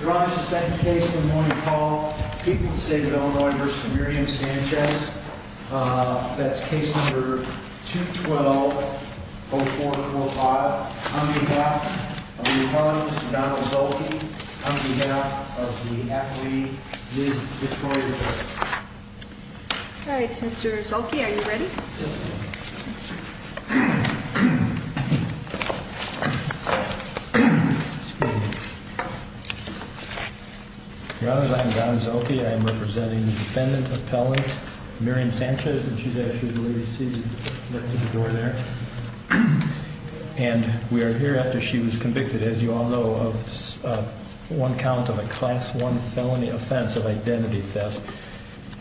Your Honor, this is the second case of the morning call. People of the State of Illinois v. Miriam Sanchez. That's case number 212-04-05. On behalf of the Appellant, Mr. Donald Zolke. On behalf of the Athlete, Ms. Detroit O'Hara. Alright, Mr. Zolke, are you ready? Yes, ma'am. Your Honor, I am Don Zolke. I am representing the Defendant Appellant, Miriam Sanchez. And she's actually the lady seated next to the door there. And we are here after she was convicted, as you all know, of one count of a Class 1 felony offense of identity theft.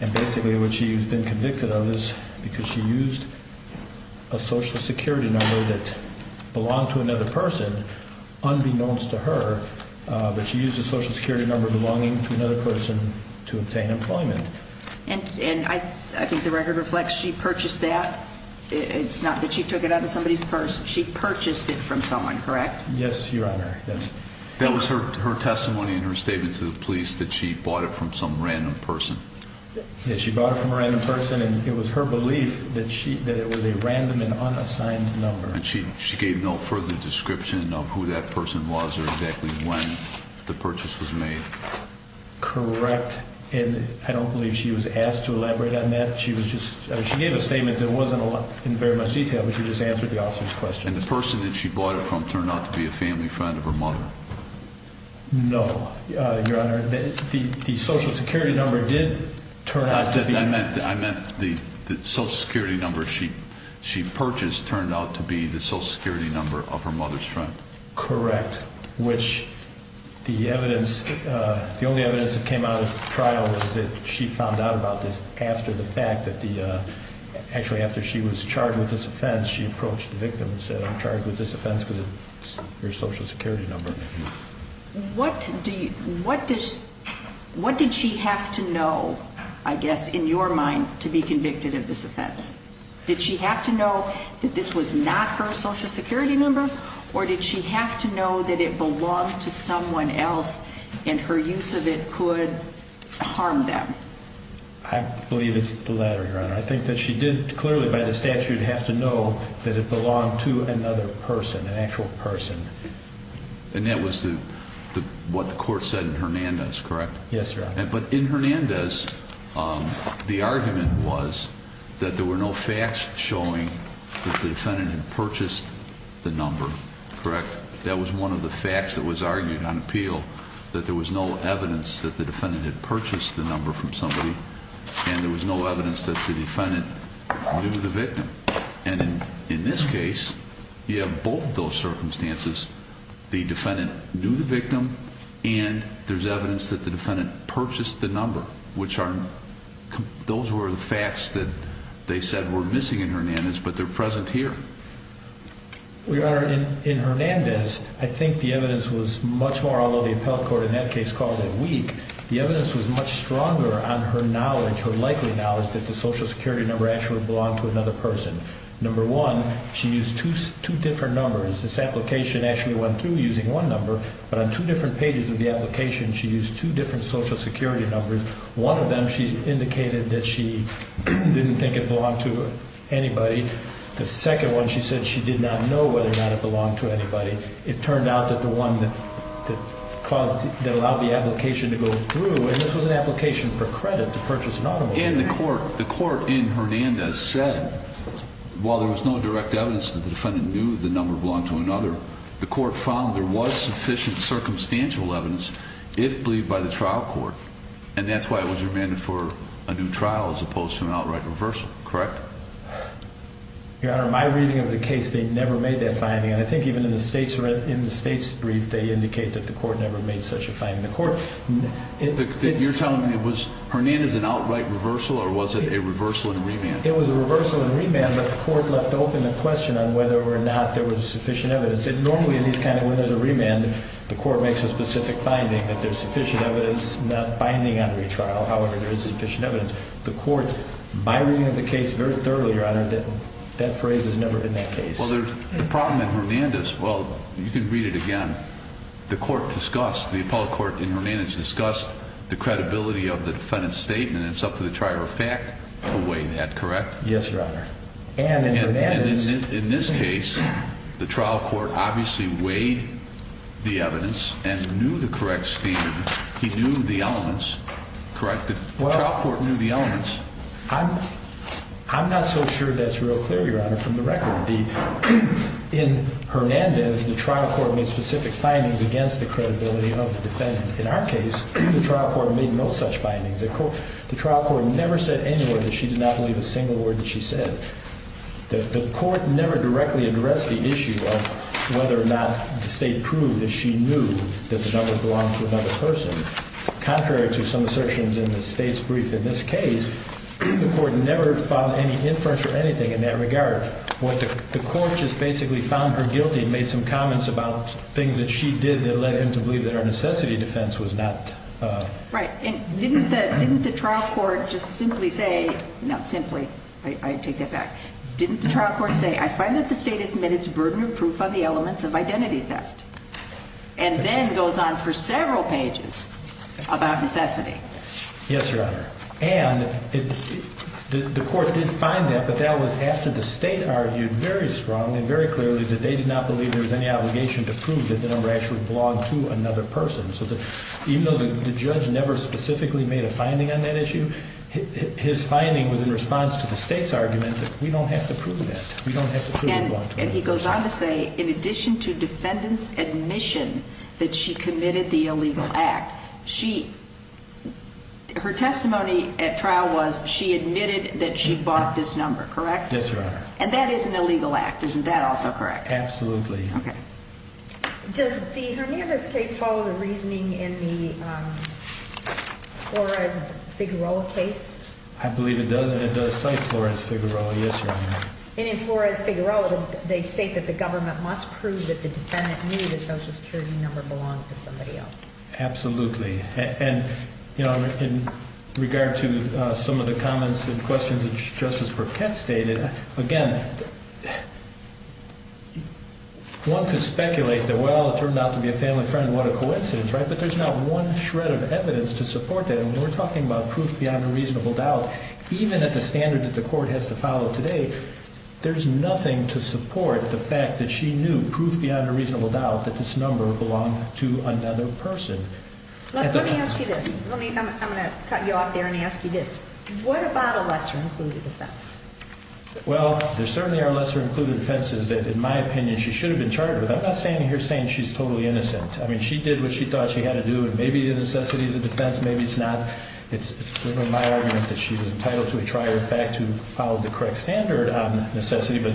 And basically what she's been convicted of is because she used a Social Security number that belonged to another person, unbeknownst to her. But she used a Social Security number belonging to another person to obtain employment. And I think the record reflects she purchased that. It's not that she took it out of somebody's purse. She purchased it from someone, correct? Yes, Your Honor. That was her testimony and her statement to the police that she bought it from some random person. She bought it from a random person and it was her belief that it was a random and unassigned number. And she gave no further description of who that person was or exactly when the purchase was made? Correct. And I don't believe she was asked to elaborate on that. She gave a statement that wasn't in very much detail, but she just answered the officer's question. And the person that she bought it from turned out to be a family friend of her mother? No, Your Honor. The Social Security number did turn out to be... I meant the Social Security number she purchased turned out to be the Social Security number of her mother's friend. Correct. Which the evidence, the only evidence that came out of the trial was that she found out about this after the fact that the, actually after she was charged with this offense, she approached the victim and said, I'm charged with this offense because of your Social Security number. What did she have to know, I guess, in your mind to be convicted of this offense? Did she have to know that this was not her Social Security number? Or did she have to know that it belonged to someone else and her use of it could harm them? I believe it's the latter, Your Honor. I think that she did clearly by the statute have to know that it belonged to another person, an actual person. And that was what the court said in Hernandez, correct? Yes, Your Honor. But in Hernandez, the argument was that there were no facts showing that the defendant had purchased the number, correct? That was one of the facts that was argued on appeal, that there was no evidence that the defendant had purchased the number from somebody and there was no evidence that the defendant knew the victim. And in this case, you have both of those circumstances. The defendant knew the victim and there's evidence that the defendant purchased the number, which are, those were the facts that they said were missing in Hernandez, but they're present here. Your Honor, in Hernandez, I think the evidence was much more, although the appellate court in that case called it weak, the evidence was much stronger on her knowledge, her likely knowledge that the Social Security number actually belonged to another person. Number one, she used two different numbers. This application actually went through using one number, but on two different pages of the application, she used two different Social Security numbers. One of them, she indicated that she didn't think it belonged to anybody. The second one, she said she did not know whether or not it belonged to anybody. It turned out that the one that caused, that allowed the application to go through, and this was an application for credit to purchase an automobile. And the court, the court in Hernandez said, while there was no direct evidence that the defendant knew the number belonged to another, the court found there was sufficient circumstantial evidence, if believed by the trial court. And that's why it was remanded for a new trial as opposed to an outright reversal, correct? Your Honor, my reading of the case, they never made that finding. And I think even in the state's, in the state's brief, they indicate that the court never made such a finding. The court, it's... You're telling me it was, Hernandez, an outright reversal, or was it a reversal and remand? It was a reversal and remand, but the court left open the question on whether or not there was sufficient evidence. And normally in these kind of, when there's a remand, the court makes a specific finding that there's sufficient evidence not binding on retrial. However, there is sufficient evidence. The court, my reading of the case very thoroughly, Your Honor, that that phrase has never been that case. Well, the problem in Hernandez, well, you can read it again. The court discussed, the appellate court in Hernandez discussed the credibility of the defendant's statement. It's up to the trier of fact to weigh that, correct? Yes, Your Honor. And in Hernandez... And in this case, the trial court obviously weighed the evidence and knew the correct statement. The trial court knew the elements. I'm not so sure that's real clear, Your Honor, from the record. In Hernandez, the trial court made specific findings against the credibility of the defendant. In our case, the trial court made no such findings. The trial court never said any word that she did not believe a single word that she said. The court never directly addressed the issue of whether or not the state proved that she knew that the numbers belonged to another person. Contrary to some assertions in the state's brief, in this case, the court never filed any inference or anything in that regard. The court just basically found her guilty and made some comments about things that she did that led him to believe that her necessity defense was not... Right. And didn't the trial court just simply say... Not simply. I take that back. Didn't the trial court say, I find that the state has admitted its burden of proof on the elements of identity theft? And then goes on for several pages about necessity. Yes, Your Honor. And the court did find that, but that was after the state argued very strong and very clearly that they did not believe there was any obligation to prove that the number actually belonged to another person. So even though the judge never specifically made a finding on that issue, his finding was in response to the state's argument that we don't have to prove that. We don't have to prove it belonged to another person. And he goes on to say, in addition to defendant's admission that she committed the illegal act, her testimony at trial was she admitted that she bought this number, correct? Yes, Your Honor. And that is an illegal act. Isn't that also correct? Absolutely. Okay. Does the Hernandez case follow the reasoning in the Flores-Figueroa case? I believe it does, and it does cite Flores-Figueroa. Yes, Your Honor. And in Flores-Figueroa, they state that the government must prove that the defendant knew the Social Security number belonged to somebody else. Absolutely. And, you know, in regard to some of the comments and questions that Justice Burkett stated, again, one could speculate that, well, it turned out to be a family friend, what a coincidence, right? But there's not one shred of evidence to support that. And when we're talking about proof beyond a reasonable doubt, even at the standard that the court has to follow today, there's nothing to support the fact that she knew, proof beyond a reasonable doubt, that this number belonged to another person. Let me ask you this. I'm going to cut you off there and ask you this. What about a lesser-included defense? Well, there certainly are lesser-included defenses that, in my opinion, she should have been charged with. I'm not standing here saying she's totally innocent. I mean, she did what she thought she had to do, and maybe the necessity is a defense, maybe it's not. It's my argument that she's entitled to a trial, in fact, to follow the correct standard on necessity. But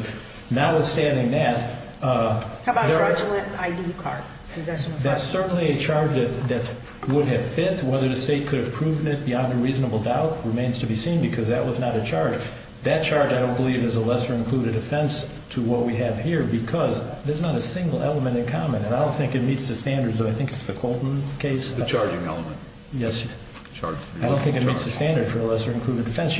notwithstanding that— How about fraudulent ID card possession of property? That's certainly a charge that would have fit. Whether the state could have proven it beyond a reasonable doubt remains to be seen because that was not a charge. That charge, I don't believe, is a lesser-included offense to what we have here because there's not a single element in common. And I don't think it meets the standards, though I think it's the Colton case. The charging element. Yes. I don't think it meets the standard for a lesser-included defense.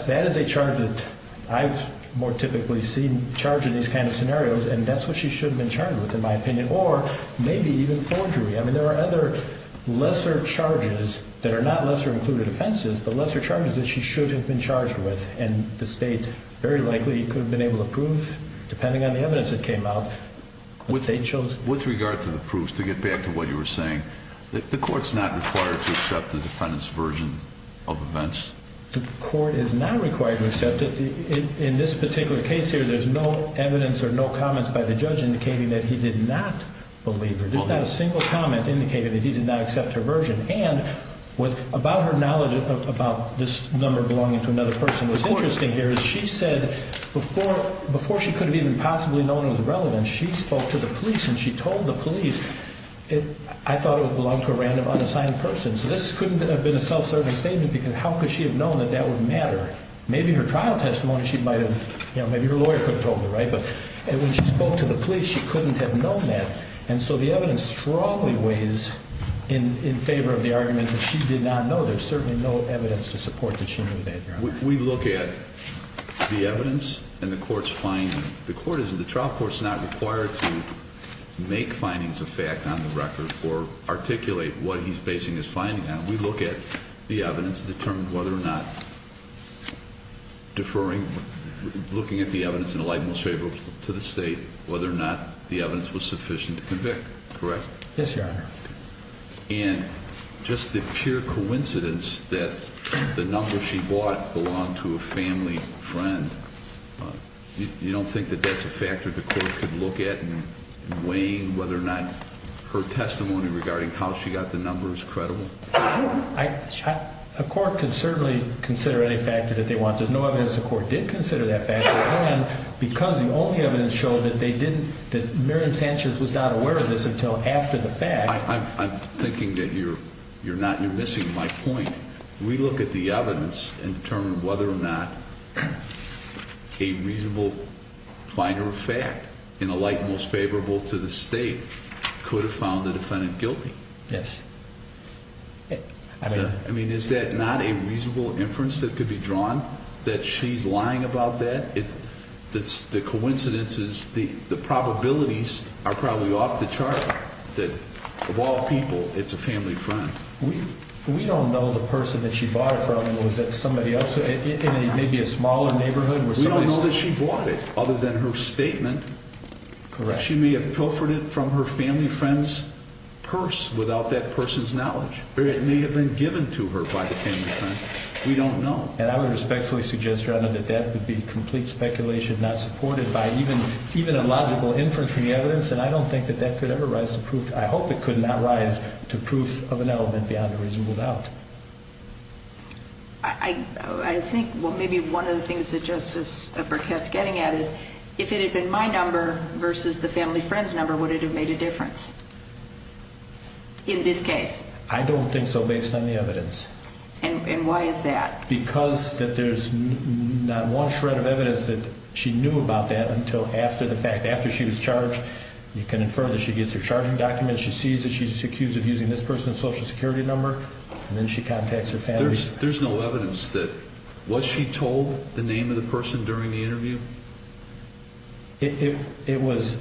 That is a charge that I've more typically seen charged in these kind of scenarios, and that's what she should have been charged with, in my opinion, or maybe even forgery. I mean, there are other lesser charges that are not lesser-included offenses, but lesser charges that she should have been charged with and the state very likely could have been able to prove, depending on the evidence that came out, that they chose— With regard to the proofs, to get back to what you were saying, the court's not required to accept the defendant's version of events? The court is not required to accept it. In this particular case here, there's no evidence or no comments by the judge indicating that he did not believe her. There's not a single comment indicating that he did not accept her version. And about her knowledge about this number belonging to another person, what's interesting here is she said, before she could have even possibly known it was relevant, she spoke to the police and she told the police, I thought it belonged to a random, unassigned person, so this couldn't have been a self-serving statement because how could she have known that that would matter? Maybe her trial testimony she might have—maybe her lawyer could have told her, right? But when she spoke to the police, she couldn't have known that, and so the evidence strongly weighs in favor of the argument that she did not know. There's certainly no evidence to support that she knew that. We look at the evidence and the court's finding. The court isn't—the trial court's not required to make findings of fact on the record or articulate what he's basing his finding on. We look at the evidence and determine whether or not deferring, looking at the evidence in the light most favorable to the state, whether or not the evidence was sufficient to convict, correct? Yes, Your Honor. And just the pure coincidence that the number she bought belonged to a family friend, you don't think that that's a factor the court could look at in weighing whether or not her testimony regarding how she got the number is credible? A court can certainly consider any factor that they want. There's no evidence the court did consider that factor, and because the only evidence showed that they didn't— I'm thinking that you're missing my point. We look at the evidence and determine whether or not a reasonable finder of fact in the light most favorable to the state could have found the defendant guilty. Yes. I mean, is that not a reasonable inference that could be drawn that she's lying about that? The coincidence is the probabilities are probably off the chart, that of all people it's a family friend. We don't know the person that she bought it from. Was that somebody else in maybe a smaller neighborhood? We don't know that she bought it, other than her statement. Correct. She may have pilfered it from her family friend's purse without that person's knowledge, or it may have been given to her by the family friend. We don't know. And I would respectfully suggest, Your Honor, that that would be complete speculation, not supported by even a logical inference from the evidence, and I don't think that that could ever rise to proof. I hope it could not rise to proof of an element beyond a reasonable doubt. I think maybe one of the things that Justice Burkett's getting at is if it had been my number versus the family friend's number, would it have made a difference in this case? I don't think so, based on the evidence. And why is that? Because that there's not one shred of evidence that she knew about that until after the fact. After she was charged, you can infer that she gets her charging document, she sees that she's accused of using this person's Social Security number, and then she contacts her family. There's no evidence that. Was she told the name of the person during the interview? It was.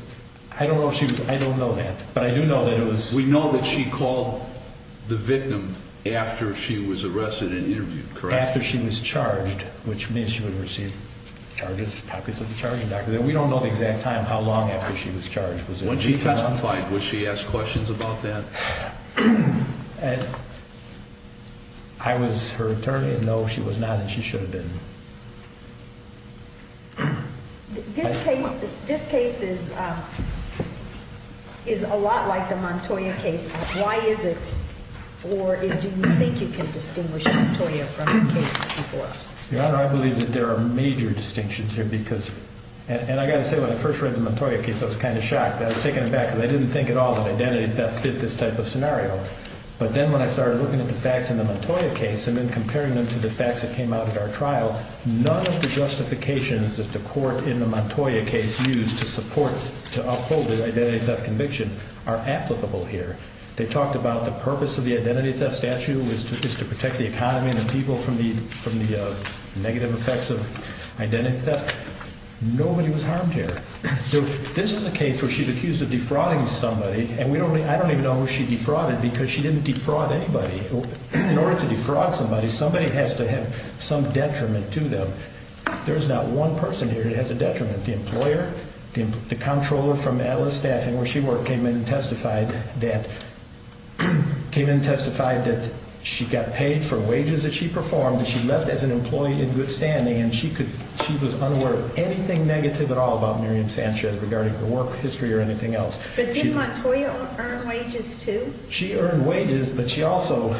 I don't know if she was. I don't know that. But I do know that it was. We know that she called the victim after she was arrested and interviewed, correct? After she was charged, which means she would receive charges, copies of the charging document. We don't know the exact time, how long after she was charged. When she testified, was she asked questions about that? I was her attorney, and no, she was not, and she should have been. This case is a lot like the Montoya case. Why is it, or do you think you can distinguish Montoya from the case before us? Your Honor, I believe that there are major distinctions here because, and I've got to say, when I first read the Montoya case, I was kind of shocked. I was taken aback because I didn't think at all that identity theft fit this type of scenario. But then when I started looking at the facts in the Montoya case and then comparing them to the facts that came out at our trial, none of the justifications that the court in the Montoya case used to support, to uphold the identity theft conviction are applicable here. They talked about the purpose of the identity theft statute was to protect the economy and the people from the negative effects of identity theft. Nobody was harmed here. This is a case where she's accused of defrauding somebody, and I don't even know who she defrauded because she didn't defraud anybody. In order to defraud somebody, somebody has to have some detriment to them. There's not one person here that has a detriment. The employer, the comptroller from Atlas Staffing where she worked, came in and testified that she got paid for wages that she performed that she left as an employee in good standing, and she was unaware of anything negative at all about Miriam Sanchez regarding her work history or anything else. But did Montoya earn wages too? She earned wages, but she also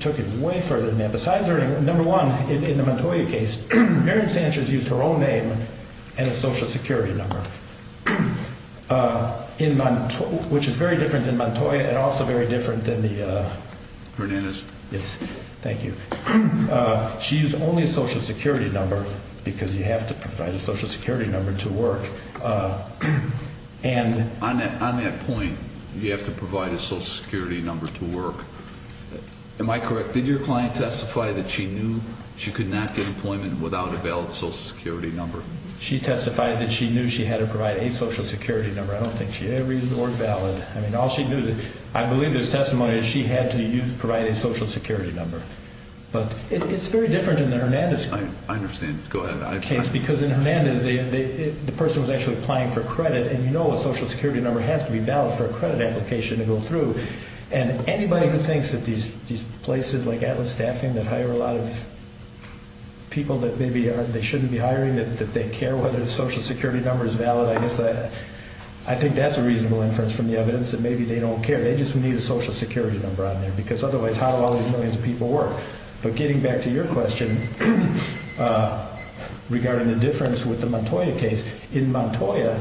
took it way further than that. Besides her, number one, in the Montoya case, Miriam Sanchez used her own name and a Social Security number, which is very different than Montoya and also very different than the… Hernandez. Yes. Thank you. She used only a Social Security number because you have to provide a Social Security number to work. On that point, you have to provide a Social Security number to work. Am I correct? Did your client testify that she knew she could not get employment without a valid Social Security number? She testified that she knew she had to provide a Social Security number. I don't think she ever used the word valid. I mean, all she knew, I believe this testimony, is she had to provide a Social Security number. But it's very different than the Hernandez case. I understand. Go ahead. Because in Hernandez, the person was actually applying for credit, and you know a Social Security number has to be valid for a credit application to go through. And anybody who thinks that these places like Atlas Staffing that hire a lot of people that maybe they shouldn't be hiring, that they care whether the Social Security number is valid, I think that's a reasonable inference from the evidence that maybe they don't care. They just need a Social Security number on there. Because otherwise, how do all these millions of people work? But getting back to your question regarding the difference with the Montoya case, in Montoya,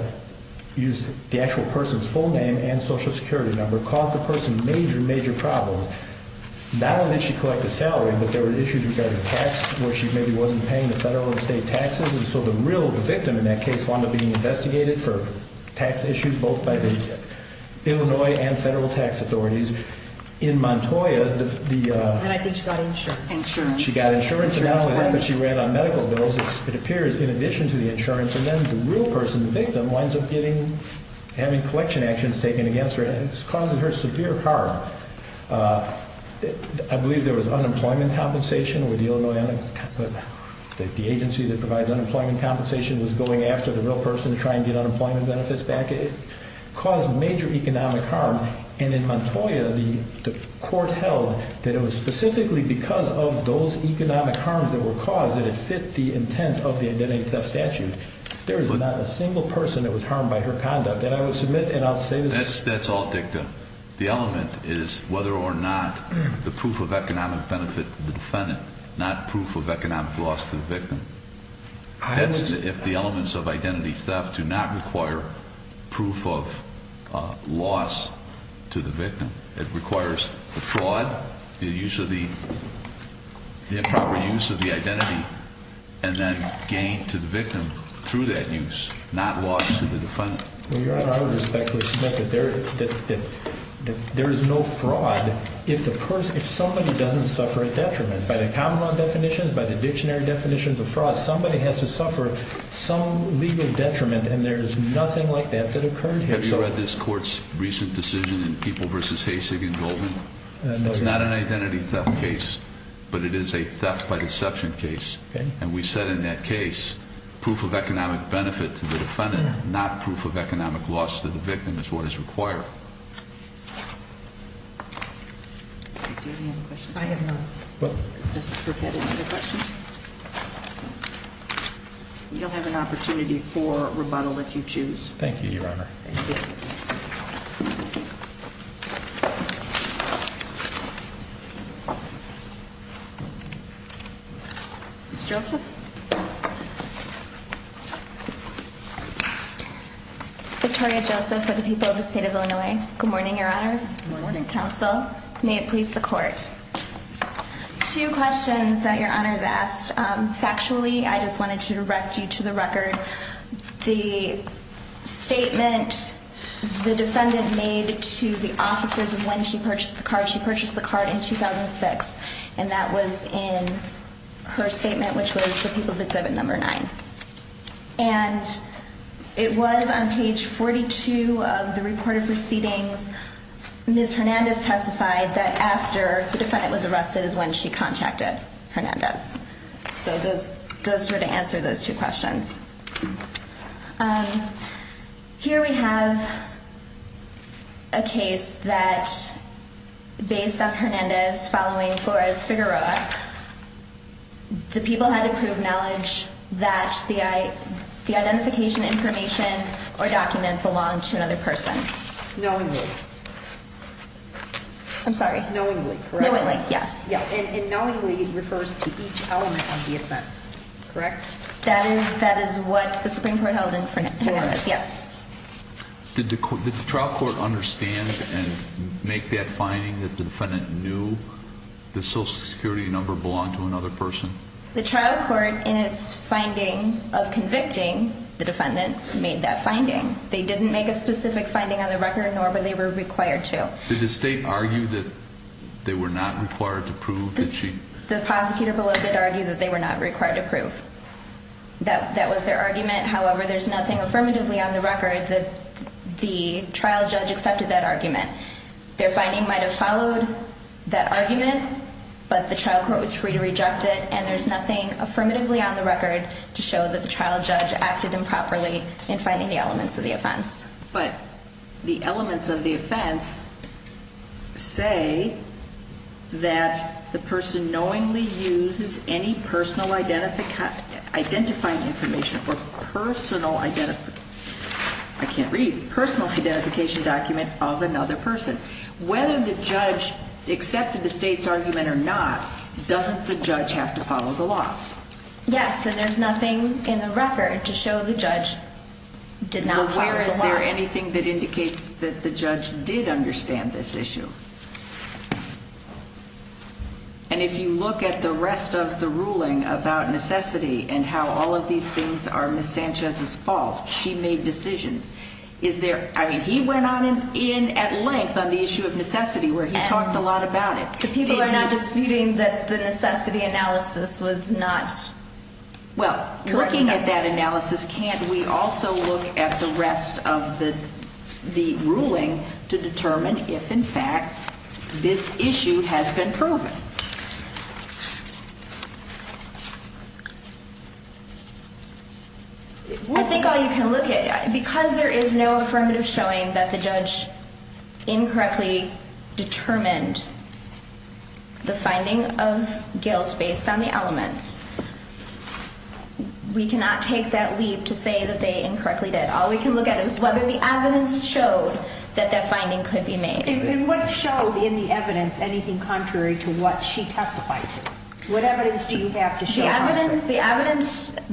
the actual person's full name and Social Security number caused the person major, major problems. Not only did she collect a salary, but there were issues regarding tax where she maybe wasn't paying the federal and state taxes. And so the real victim in that case wound up being investigated for tax issues both by the Illinois and federal tax authorities. In Montoya, she got insurance, and not only that, but she ran on medical bills, it appears, in addition to the insurance. And then the real person, the victim, winds up having collection actions taken against her and this causes her severe harm. I believe there was unemployment compensation. The agency that provides unemployment compensation was going after the real person to try and get unemployment benefits back. It caused major economic harm. And in Montoya, the court held that it was specifically because of those economic harms that were caused that it fit the intent of the identity theft statute. There is not a single person that was harmed by her conduct. And I will submit and I'll say this. That's all dicta. The element is whether or not the proof of economic benefit to the defendant, not proof of economic loss to the victim. That's if the elements of identity theft do not require proof of loss to the victim. It requires the fraud, the improper use of the identity, and then gain to the victim through that use, not loss to the defendant. Your Honor, I would respectfully submit that there is no fraud if somebody doesn't suffer a detriment. By the common law definitions, by the dictionary definitions of fraud, somebody has to suffer some legal detriment, and there is nothing like that that occurred here. Have you read this court's recent decision in People v. Haysig and Goldman? No, Your Honor. It's not an identity theft case, but it is a theft by deception case. And we said in that case, proof of economic benefit to the defendant, not proof of economic loss to the victim is what is required. Do you have any other questions? I have none. Does the clerk have any other questions? You'll have an opportunity for rebuttal if you choose. Thank you, Your Honor. Thank you. Ms. Joseph? Victoria Joseph for the people of the state of Illinois. Good morning, Your Honors. Good morning, Counsel. May it please the Court. Two questions that Your Honors asked. Factually, I just wanted to direct you to the record. The statement the defendant made to the officers of when she purchased the card, she purchased the card in 2006, and that was in her statement, which was the People's Exhibit No. 9. And it was on page 42 of the recorded proceedings. Ms. Hernandez testified that after the defendant was arrested is when she contacted Hernandez. So those were to answer those two questions. Here we have a case that, based on Hernandez following Flores-Figueroa, the people had to prove knowledge that the identification information or document belonged to another person. Knowingly. I'm sorry. Knowingly, correct? Knowingly, yes. And knowingly refers to each element of the offense, correct? That is what the Supreme Court held in Hernandez, yes. Did the trial court understand and make that finding that the defendant knew the Social Security number belonged to another person? The trial court, in its finding of convicting the defendant, made that finding. They didn't make a specific finding on the record, nor were they required to. Did the State argue that they were not required to prove that she... The prosecutor below did argue that they were not required to prove. That was their argument. However, there's nothing affirmatively on the record that the trial judge accepted that argument. Their finding might have followed that argument, but the trial court was free to reject it, and there's nothing affirmatively on the record to show that the trial judge acted improperly in finding the elements of the offense. But the elements of the offense say that the person knowingly uses any personal identifying information or personal identification... I can't read. Personal identification document of another person. Whether the judge accepted the State's argument or not, doesn't the judge have to follow the law? Yes, and there's nothing in the record to show the judge did not follow the law. Now, where is there anything that indicates that the judge did understand this issue? And if you look at the rest of the ruling about necessity and how all of these things are Ms. Sanchez's fault, she made decisions, is there... I mean, he went in at length on the issue of necessity where he talked a lot about it. The people are not disputing that the necessity analysis was not... Well, looking at that analysis, can't we also look at the rest of the ruling to determine if, in fact, this issue has been proven? I think all you can look at, because there is no affirmative showing that the judge incorrectly determined the finding of guilt based on the elements, we cannot take that leap to say that they incorrectly did. All we can look at is whether the evidence showed that that finding could be made. And what showed in the evidence anything contrary to what she testified to? What evidence do you have to show? The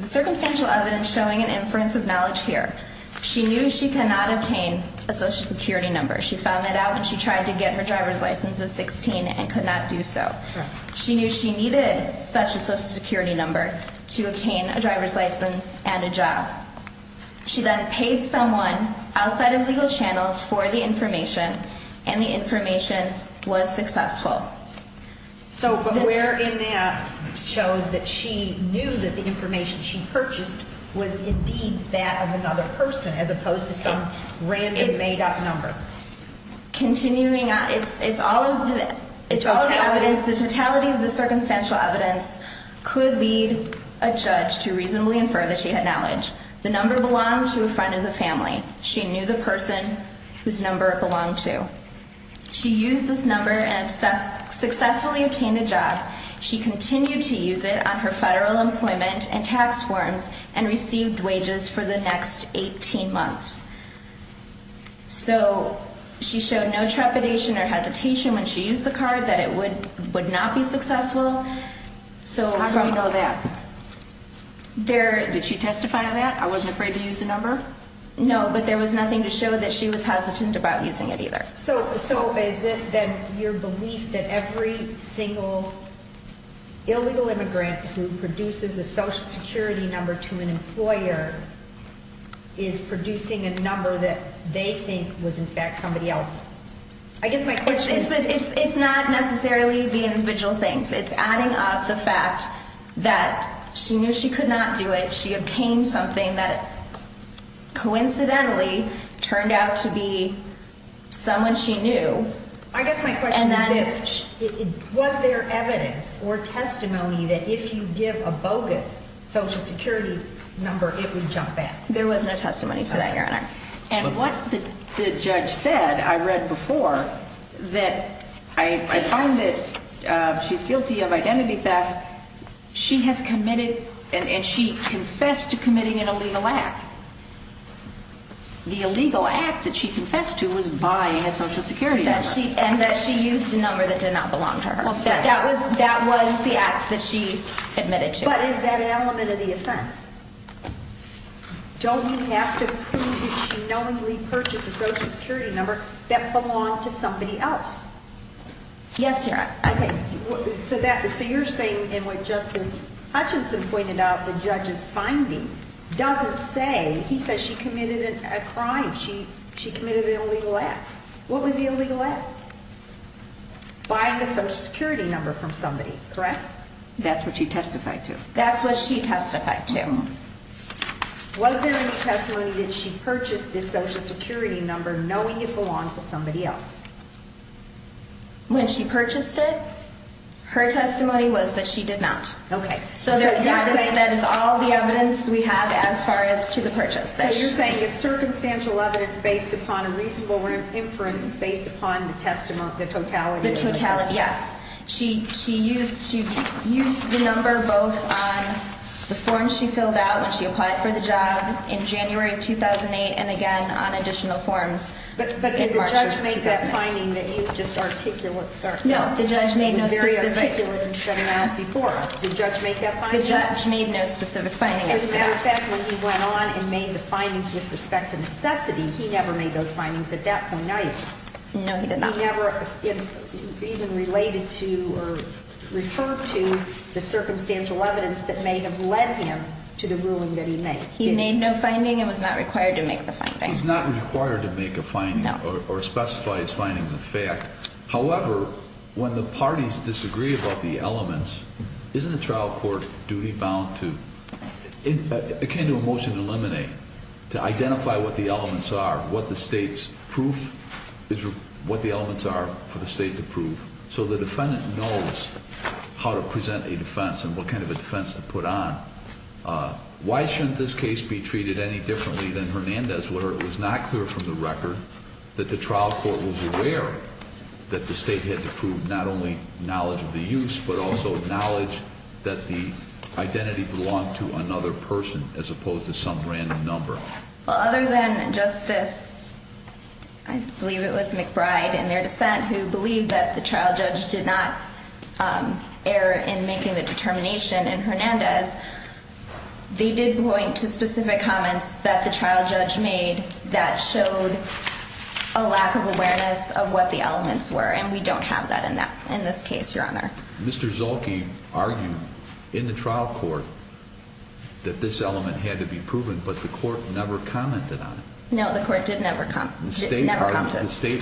circumstantial evidence showing an inference of knowledge here. She knew she cannot obtain a social security number. She found that out when she tried to get her driver's license at 16 and could not do so. She knew she needed such a social security number to obtain a driver's license and a job. She then paid someone outside of legal channels for the information, and the information was successful. But where in that shows that she knew that the information she purchased was indeed that of another person as opposed to some random made-up number? Continuing on, it's all of the evidence. Likewise, the totality of the circumstantial evidence could lead a judge to reasonably infer that she had knowledge. The number belonged to a friend of the family. She knew the person whose number it belonged to. She used this number and successfully obtained a job. She continued to use it on her federal employment and tax forms and received wages for the next 18 months. So she showed no trepidation or hesitation when she used the card that it would not be successful. How do we know that? Did she testify to that? I wasn't afraid to use the number? No, but there was nothing to show that she was hesitant about using it either. So is it then your belief that every single illegal immigrant who produces a Social Security number to an employer is producing a number that they think was in fact somebody else's? It's not necessarily the individual things. It's adding up the fact that she knew she could not do it. She obtained something that coincidentally turned out to be someone she knew. I guess my question is this. Was there evidence or testimony that if you give a bogus Social Security number, it would jump back? There was no testimony to that, Your Honor. And what the judge said, I read before, that I find that she's guilty of identity theft. She has committed and she confessed to committing an illegal act. The illegal act that she confessed to was buying a Social Security number. And that she used a number that did not belong to her. That was the act that she admitted to. But is that an element of the offense? Don't you have to prove that she knowingly purchased a Social Security number that belonged to somebody else? Yes, Your Honor. Okay. So you're saying in what Justice Hutchinson pointed out, the judge's finding doesn't say. He says she committed a crime. She committed an illegal act. What was the illegal act? Buying a Social Security number from somebody, correct? That's what she testified to. That's what she testified to. Was there any testimony that she purchased this Social Security number knowing it belonged to somebody else? When she purchased it, her testimony was that she did not. Okay. So that is all the evidence we have as far as to the purchase. So you're saying it's circumstantial evidence based upon a reasonable inference based upon the totality of the testimony? The totality, yes. She used the number both on the form she filled out when she applied for the job in January of 2008 and again on additional forms in March of 2008. Did the judge make that finding that you just articulated? No, the judge made no specific. Very articulate and set it out before us. Did the judge make that finding? The judge made no specific finding as to that. As a matter of fact, when he went on and made the findings with respect to necessity, he never made those findings at that point in time. No, he did not. He never even related to or referred to the circumstantial evidence that may have led him to the ruling that he made. He made no finding and was not required to make the finding. He's not required to make a finding or specify his findings in fact. However, when the parties disagree about the elements, isn't a trial court duty bound to, akin to a motion to eliminate, to identify what the elements are, what the state's proof is, what the elements are for the state to prove, so the defendant knows how to present a defense and what kind of a defense to put on. Why shouldn't this case be treated any differently than Hernandez, where it was not clear from the record that the trial court was aware that the state had to prove not only knowledge of the use, but also knowledge that the identity belonged to another person as opposed to some random number? Well, other than Justice, I believe it was McBride in their dissent, who believed that the trial judge did not err in making the determination in Hernandez. They did point to specific comments that the trial judge made that showed a lack of awareness of what the elements were, and we don't have that in this case, Your Honor. Mr. Zolke argued in the trial court that this element had to be proven, but the court never commented on it. No, the court did never comment. The state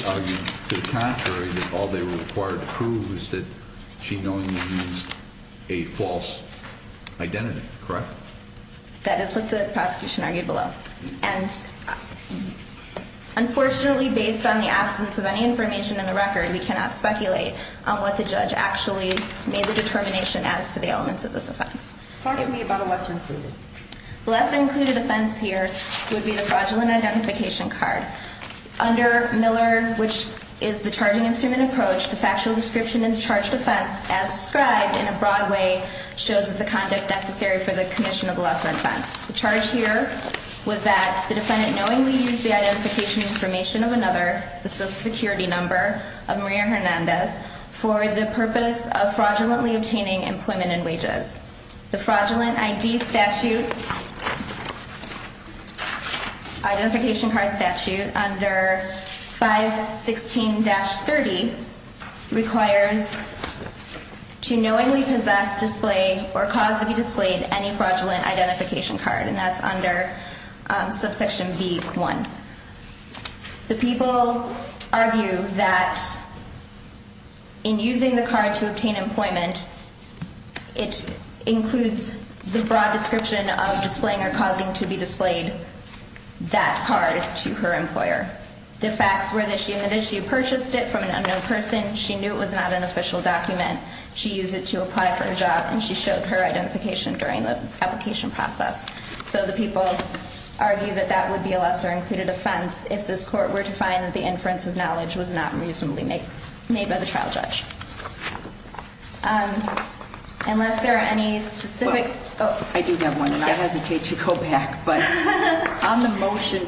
argued to the contrary that all they were required to prove was that she knowingly used a false identity, correct? That is what the prosecution argued below. And unfortunately, based on the absence of any information in the record, we cannot speculate on what the judge actually made the determination as to the elements of this offense. Talk to me about a lesser included. The lesser included offense here would be the fraudulent identification card. Under Miller, which is the charging instrument approach, the factual description in the charged offense as described in a broad way shows that the conduct necessary for the commission of the lesser offense. The charge here was that the defendant knowingly used the identification information of another, the social security number of Maria Hernandez, for the purpose of fraudulently obtaining employment and wages. The fraudulent ID statute, identification card statute under 516-30 requires to knowingly possess, display, or cause to be displayed any fraudulent identification card, and that's under subsection B1. The people argue that in using the card to obtain employment, it includes the broad description of displaying or causing to be displayed that card to her employer. The facts were that she admitted she purchased it from an unknown person. She knew it was not an official document. She used it to apply for a job, and she showed her identification during the application process. So the people argue that that would be a lesser included offense if this court were to find that the inference of knowledge was not reasonably made by the trial judge. I do have one, and I hesitate to go back, but on the motion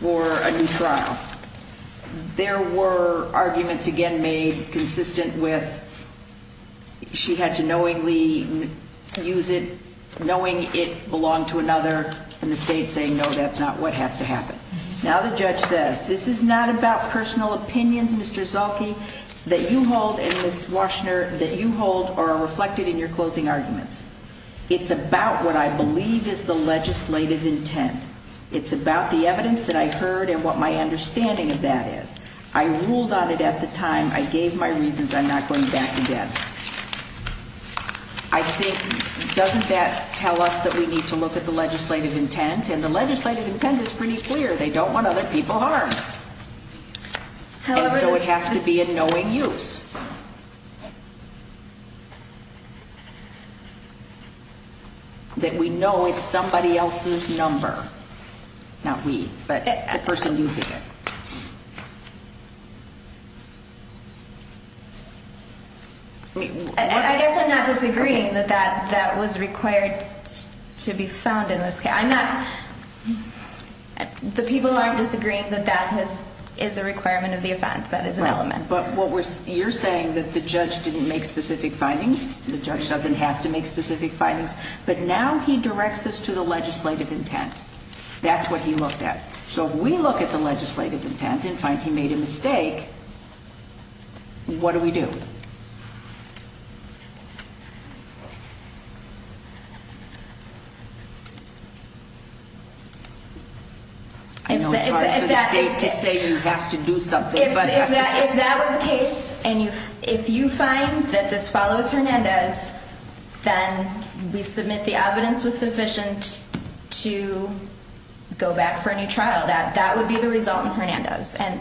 for a new trial, there were arguments again made consistent with she had to knowingly use it, knowing it belonged to another, and the state saying, no, that's not what has to happen. Now the judge says, this is not about personal opinions, Mr. Zolke, that you hold, and Ms. Waschner, that you hold or are reflected in your closing arguments. It's about what I believe is the legislative intent. It's about the evidence that I heard and what my understanding of that is. I ruled on it at the time. I gave my reasons. I'm not going back again. I think, doesn't that tell us that we need to look at the legislative intent? And the legislative intent is pretty clear. They don't want other people harmed. And so it has to be a knowing use. That we know it's somebody else's number. Not we, but the person using it. I guess I'm not disagreeing that that was required to be found in this case. I'm not the people aren't disagreeing that that is a requirement of the offense. That is an element. You're saying that the judge didn't make specific findings. The judge doesn't have to make specific findings. But now he directs this to the legislative intent. That's what he looked at. So if we look at the legislative intent and find he made a mistake, what do we do? I know it's hard for the state to say you have to do something. If that were the case, and if you find that this follows Hernandez, then we submit the evidence was sufficient to go back for a new trial. That would be the result in Hernandez. And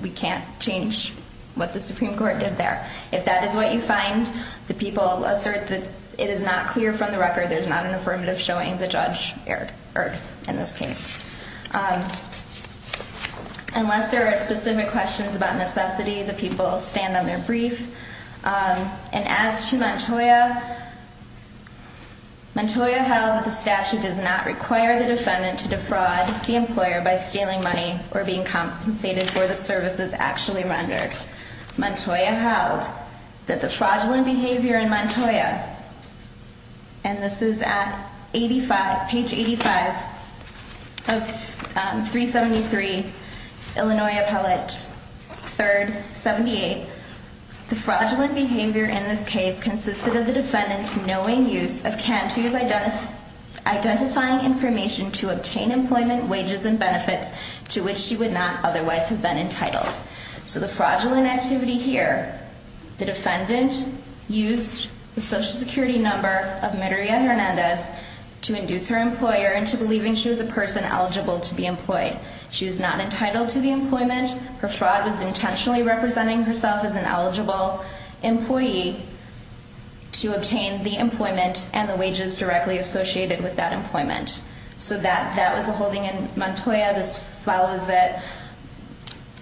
we can't change what the Supreme Court did there. If that is what you find, the people assert that it is not clear from the record. There's not an affirmative showing the judge erred in this case. Unless there are specific questions about necessity, the people stand on their brief. And as to Montoya, Montoya held that the statute does not require the defendant to defraud the employer by stealing money or being compensated for the services actually rendered. Montoya held that the fraudulent behavior in Montoya, and this is at page 85 of 373, Illinois Appellate 3rd, 78. The fraudulent behavior in this case consisted of the defendant knowing use of Cantu's identifying information to obtain employment, wages, and benefits to which she would not otherwise have been entitled. So the fraudulent activity here, the defendant used the Social Security number of Meduria Hernandez to induce her employer into believing she was a person eligible to be employed. She was not entitled to the employment. Her fraud was intentionally representing herself as an eligible employee to obtain the employment and the wages directly associated with that employment. So that was the holding in Montoya. This follows it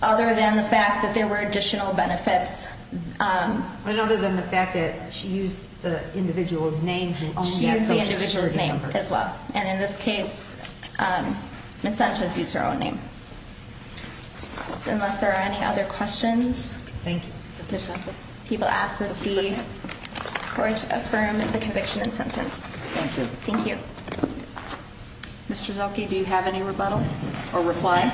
other than the fact that there were additional benefits. But other than the fact that she used the individual's name who only had Social Security numbers. She used the individual's name as well. And in this case, Ms. Sanchez used her own name. Unless there are any other questions. Thank you. People ask that the court affirm the conviction and sentence. Thank you. Thank you. Mr. Zilkey, do you have any rebuttal or reply?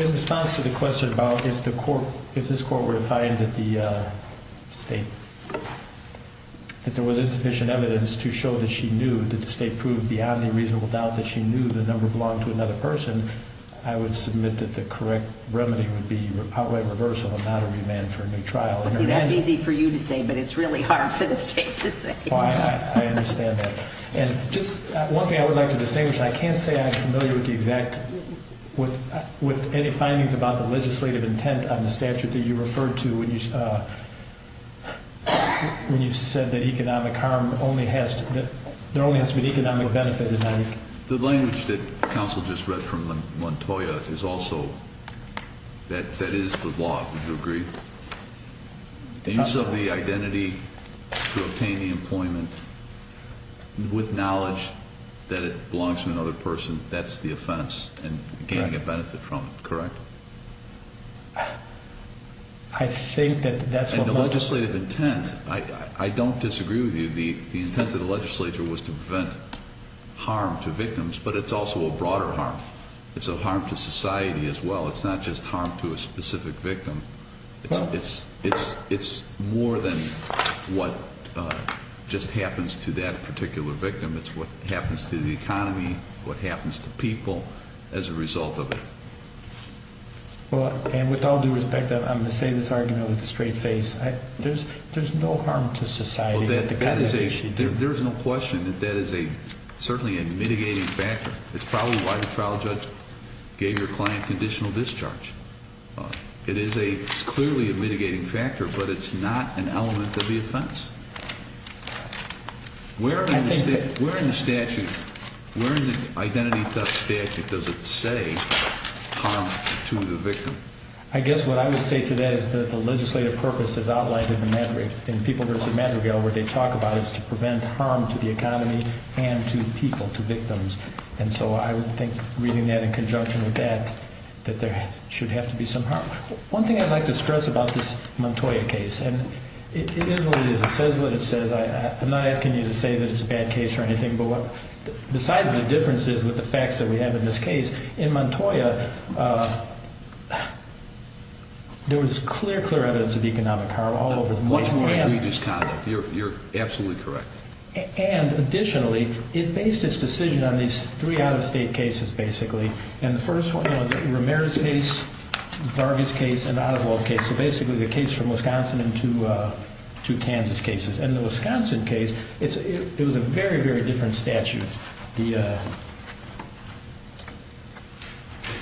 In response to the question about if this court were to find that the state, that there was insufficient evidence to show that she knew, that the state proved beyond a reasonable doubt that she knew the number belonged to another person, I would submit that the correct remedy would be highway reversal and not a remand for a new trial. See, that's easy for you to say, but it's really hard for the state to say. I understand that. And just one thing I would like to distinguish. I can't say I'm familiar with the exact, with any findings about the legislative intent on the statute that you referred to when you said that economic harm only has to, there only has to be an economic benefit in that. The language that counsel just read from Montoya is also, that is the law, would you agree? The use of the identity to obtain the employment with knowledge that it belongs to another person, that's the offense and gaining a benefit from it, correct? I think that that's what Montoya said. And the legislative intent, I don't disagree with you. The intent of the legislature was to prevent harm to victims, but it's also a broader harm. It's a harm to society as well. It's not just harm to a specific victim. It's more than what just happens to that particular victim. It's what happens to the economy, what happens to people as a result of it. And with all due respect, I'm going to say this argument with a straight face. There's no harm to society. There's no question that that is certainly a mitigating factor. It's probably why the trial judge gave your client conditional discharge. It is clearly a mitigating factor, but it's not an element of the offense. Where in the statute, where in the identity theft statute does it say harm to the victim? I guess what I would say to that is that the legislative purpose as outlined in the Madrigal, in People v. Madrigal where they talk about is to prevent harm to the economy and to people, to victims. And so I would think reading that in conjunction with that, that there should have to be some harm. One thing I'd like to stress about this Montoya case, and it is what it is. It says what it says. I'm not asking you to say that it's a bad case or anything, but the size of the difference is with the facts that we have in this case. In Montoya, there was clear, clear evidence of economic harm all over the place. Much more egregious harm. You're absolutely correct. And additionally, it based its decision on these three out-of-state cases, basically. And the first one was Ramirez case, Vargas case, and Oswald case. So basically the case from Wisconsin and two Kansas cases. And the Wisconsin case, it was a very, very different statute. The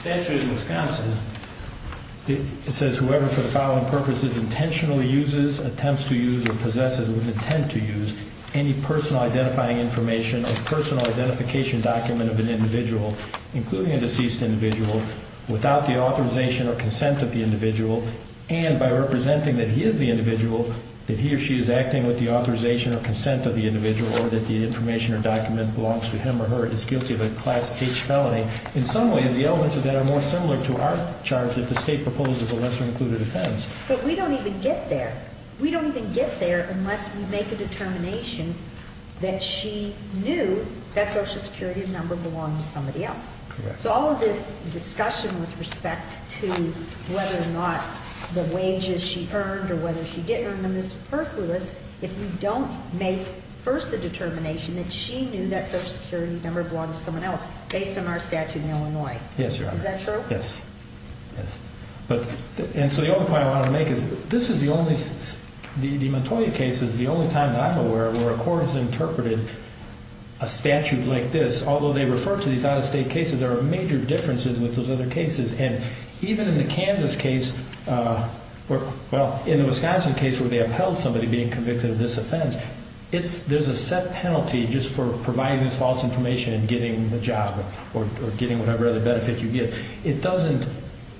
statute in Wisconsin, it says whoever for the following purposes intentionally uses, attempts to use, or possesses with intent to use any personal identifying information or personal identification document of an individual, including a deceased individual, without the authorization or consent of the individual, and by representing that he is the individual, that he or she is acting with the authorization or consent of the individual, or that the information or document belongs to him or her, is guilty of a Class H felony. In some ways, the elements of that are more similar to our charge that the state proposed as a lesser included offense. But we don't even get there. We don't even get there unless we make a determination that she knew that Social Security number belonged to somebody else. So all of this discussion with respect to whether or not the wages she earned or whether she didn't earn them is superfluous if we don't make, first, the determination that she knew that Social Security number belonged to someone else, based on our statute in Illinois. Is that true? Yes. Yes. And so the other point I want to make is this is the only, the Montoya case is the only time that I'm aware where a court has interpreted a statute like this. Although they refer to these out-of-state cases, there are major differences with those other cases. And even in the Kansas case, well, in the Wisconsin case, where they upheld somebody being convicted of this offense, there's a set penalty just for providing this false information and getting the job or getting whatever other benefit you get. It doesn't,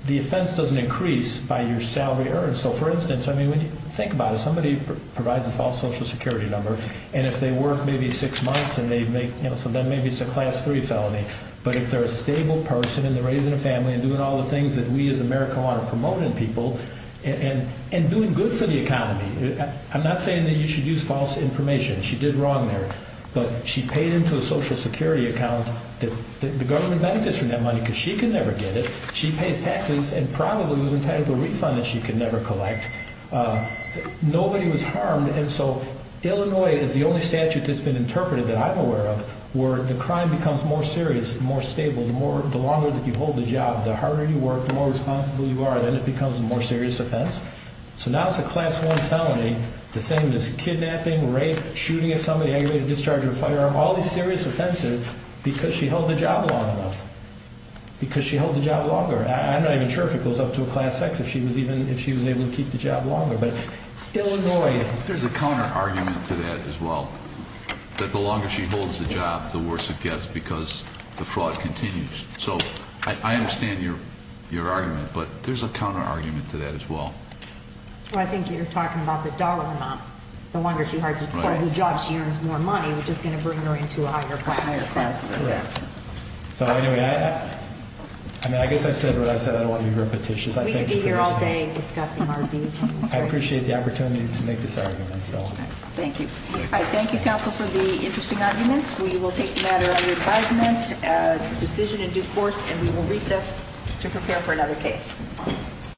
the offense doesn't increase by your salary earned. So, for instance, I mean, when you think about it, somebody provides a false Social Security number, and if they work maybe six months and they make, you know, so then maybe it's a Class III felony. But if they're a stable person and they're raising a family and doing all the things that we as America want to promote in people and doing good for the economy, I'm not saying that you should use false information. She did wrong there. But she paid into a Social Security account that the government benefits from that money because she could never get it. She pays taxes and probably was entitled to a refund that she could never collect. Nobody was harmed. And so Illinois is the only statute that's been interpreted that I'm aware of where the crime becomes more serious, more stable. The longer that you hold the job, the harder you work, the more responsible you are, and then it becomes a more serious offense. So now it's a Class I felony. The same as kidnapping, rape, shooting at somebody, aggravated discharge of a firearm, all these serious offenses because she held the job long enough, because she held the job longer. I'm not even sure if it goes up to a Class X if she was able to keep the job longer. But Illinois. There's a counterargument to that as well, that the longer she holds the job, the worse it gets because the fraud continues. So I understand your argument, but there's a counterargument to that as well. Well, I think you're talking about the dollar amount. The longer she holds the job, she earns more money, which is going to bring her into a higher class. So anyway, I guess I said what I said. I don't want to be repetitious. We could be here all day discussing our views. I appreciate the opportunity to make this argument. Thank you. I thank you, counsel, for the interesting arguments. We will take the matter under advisement, decision in due course, and we will recess to prepare for another case.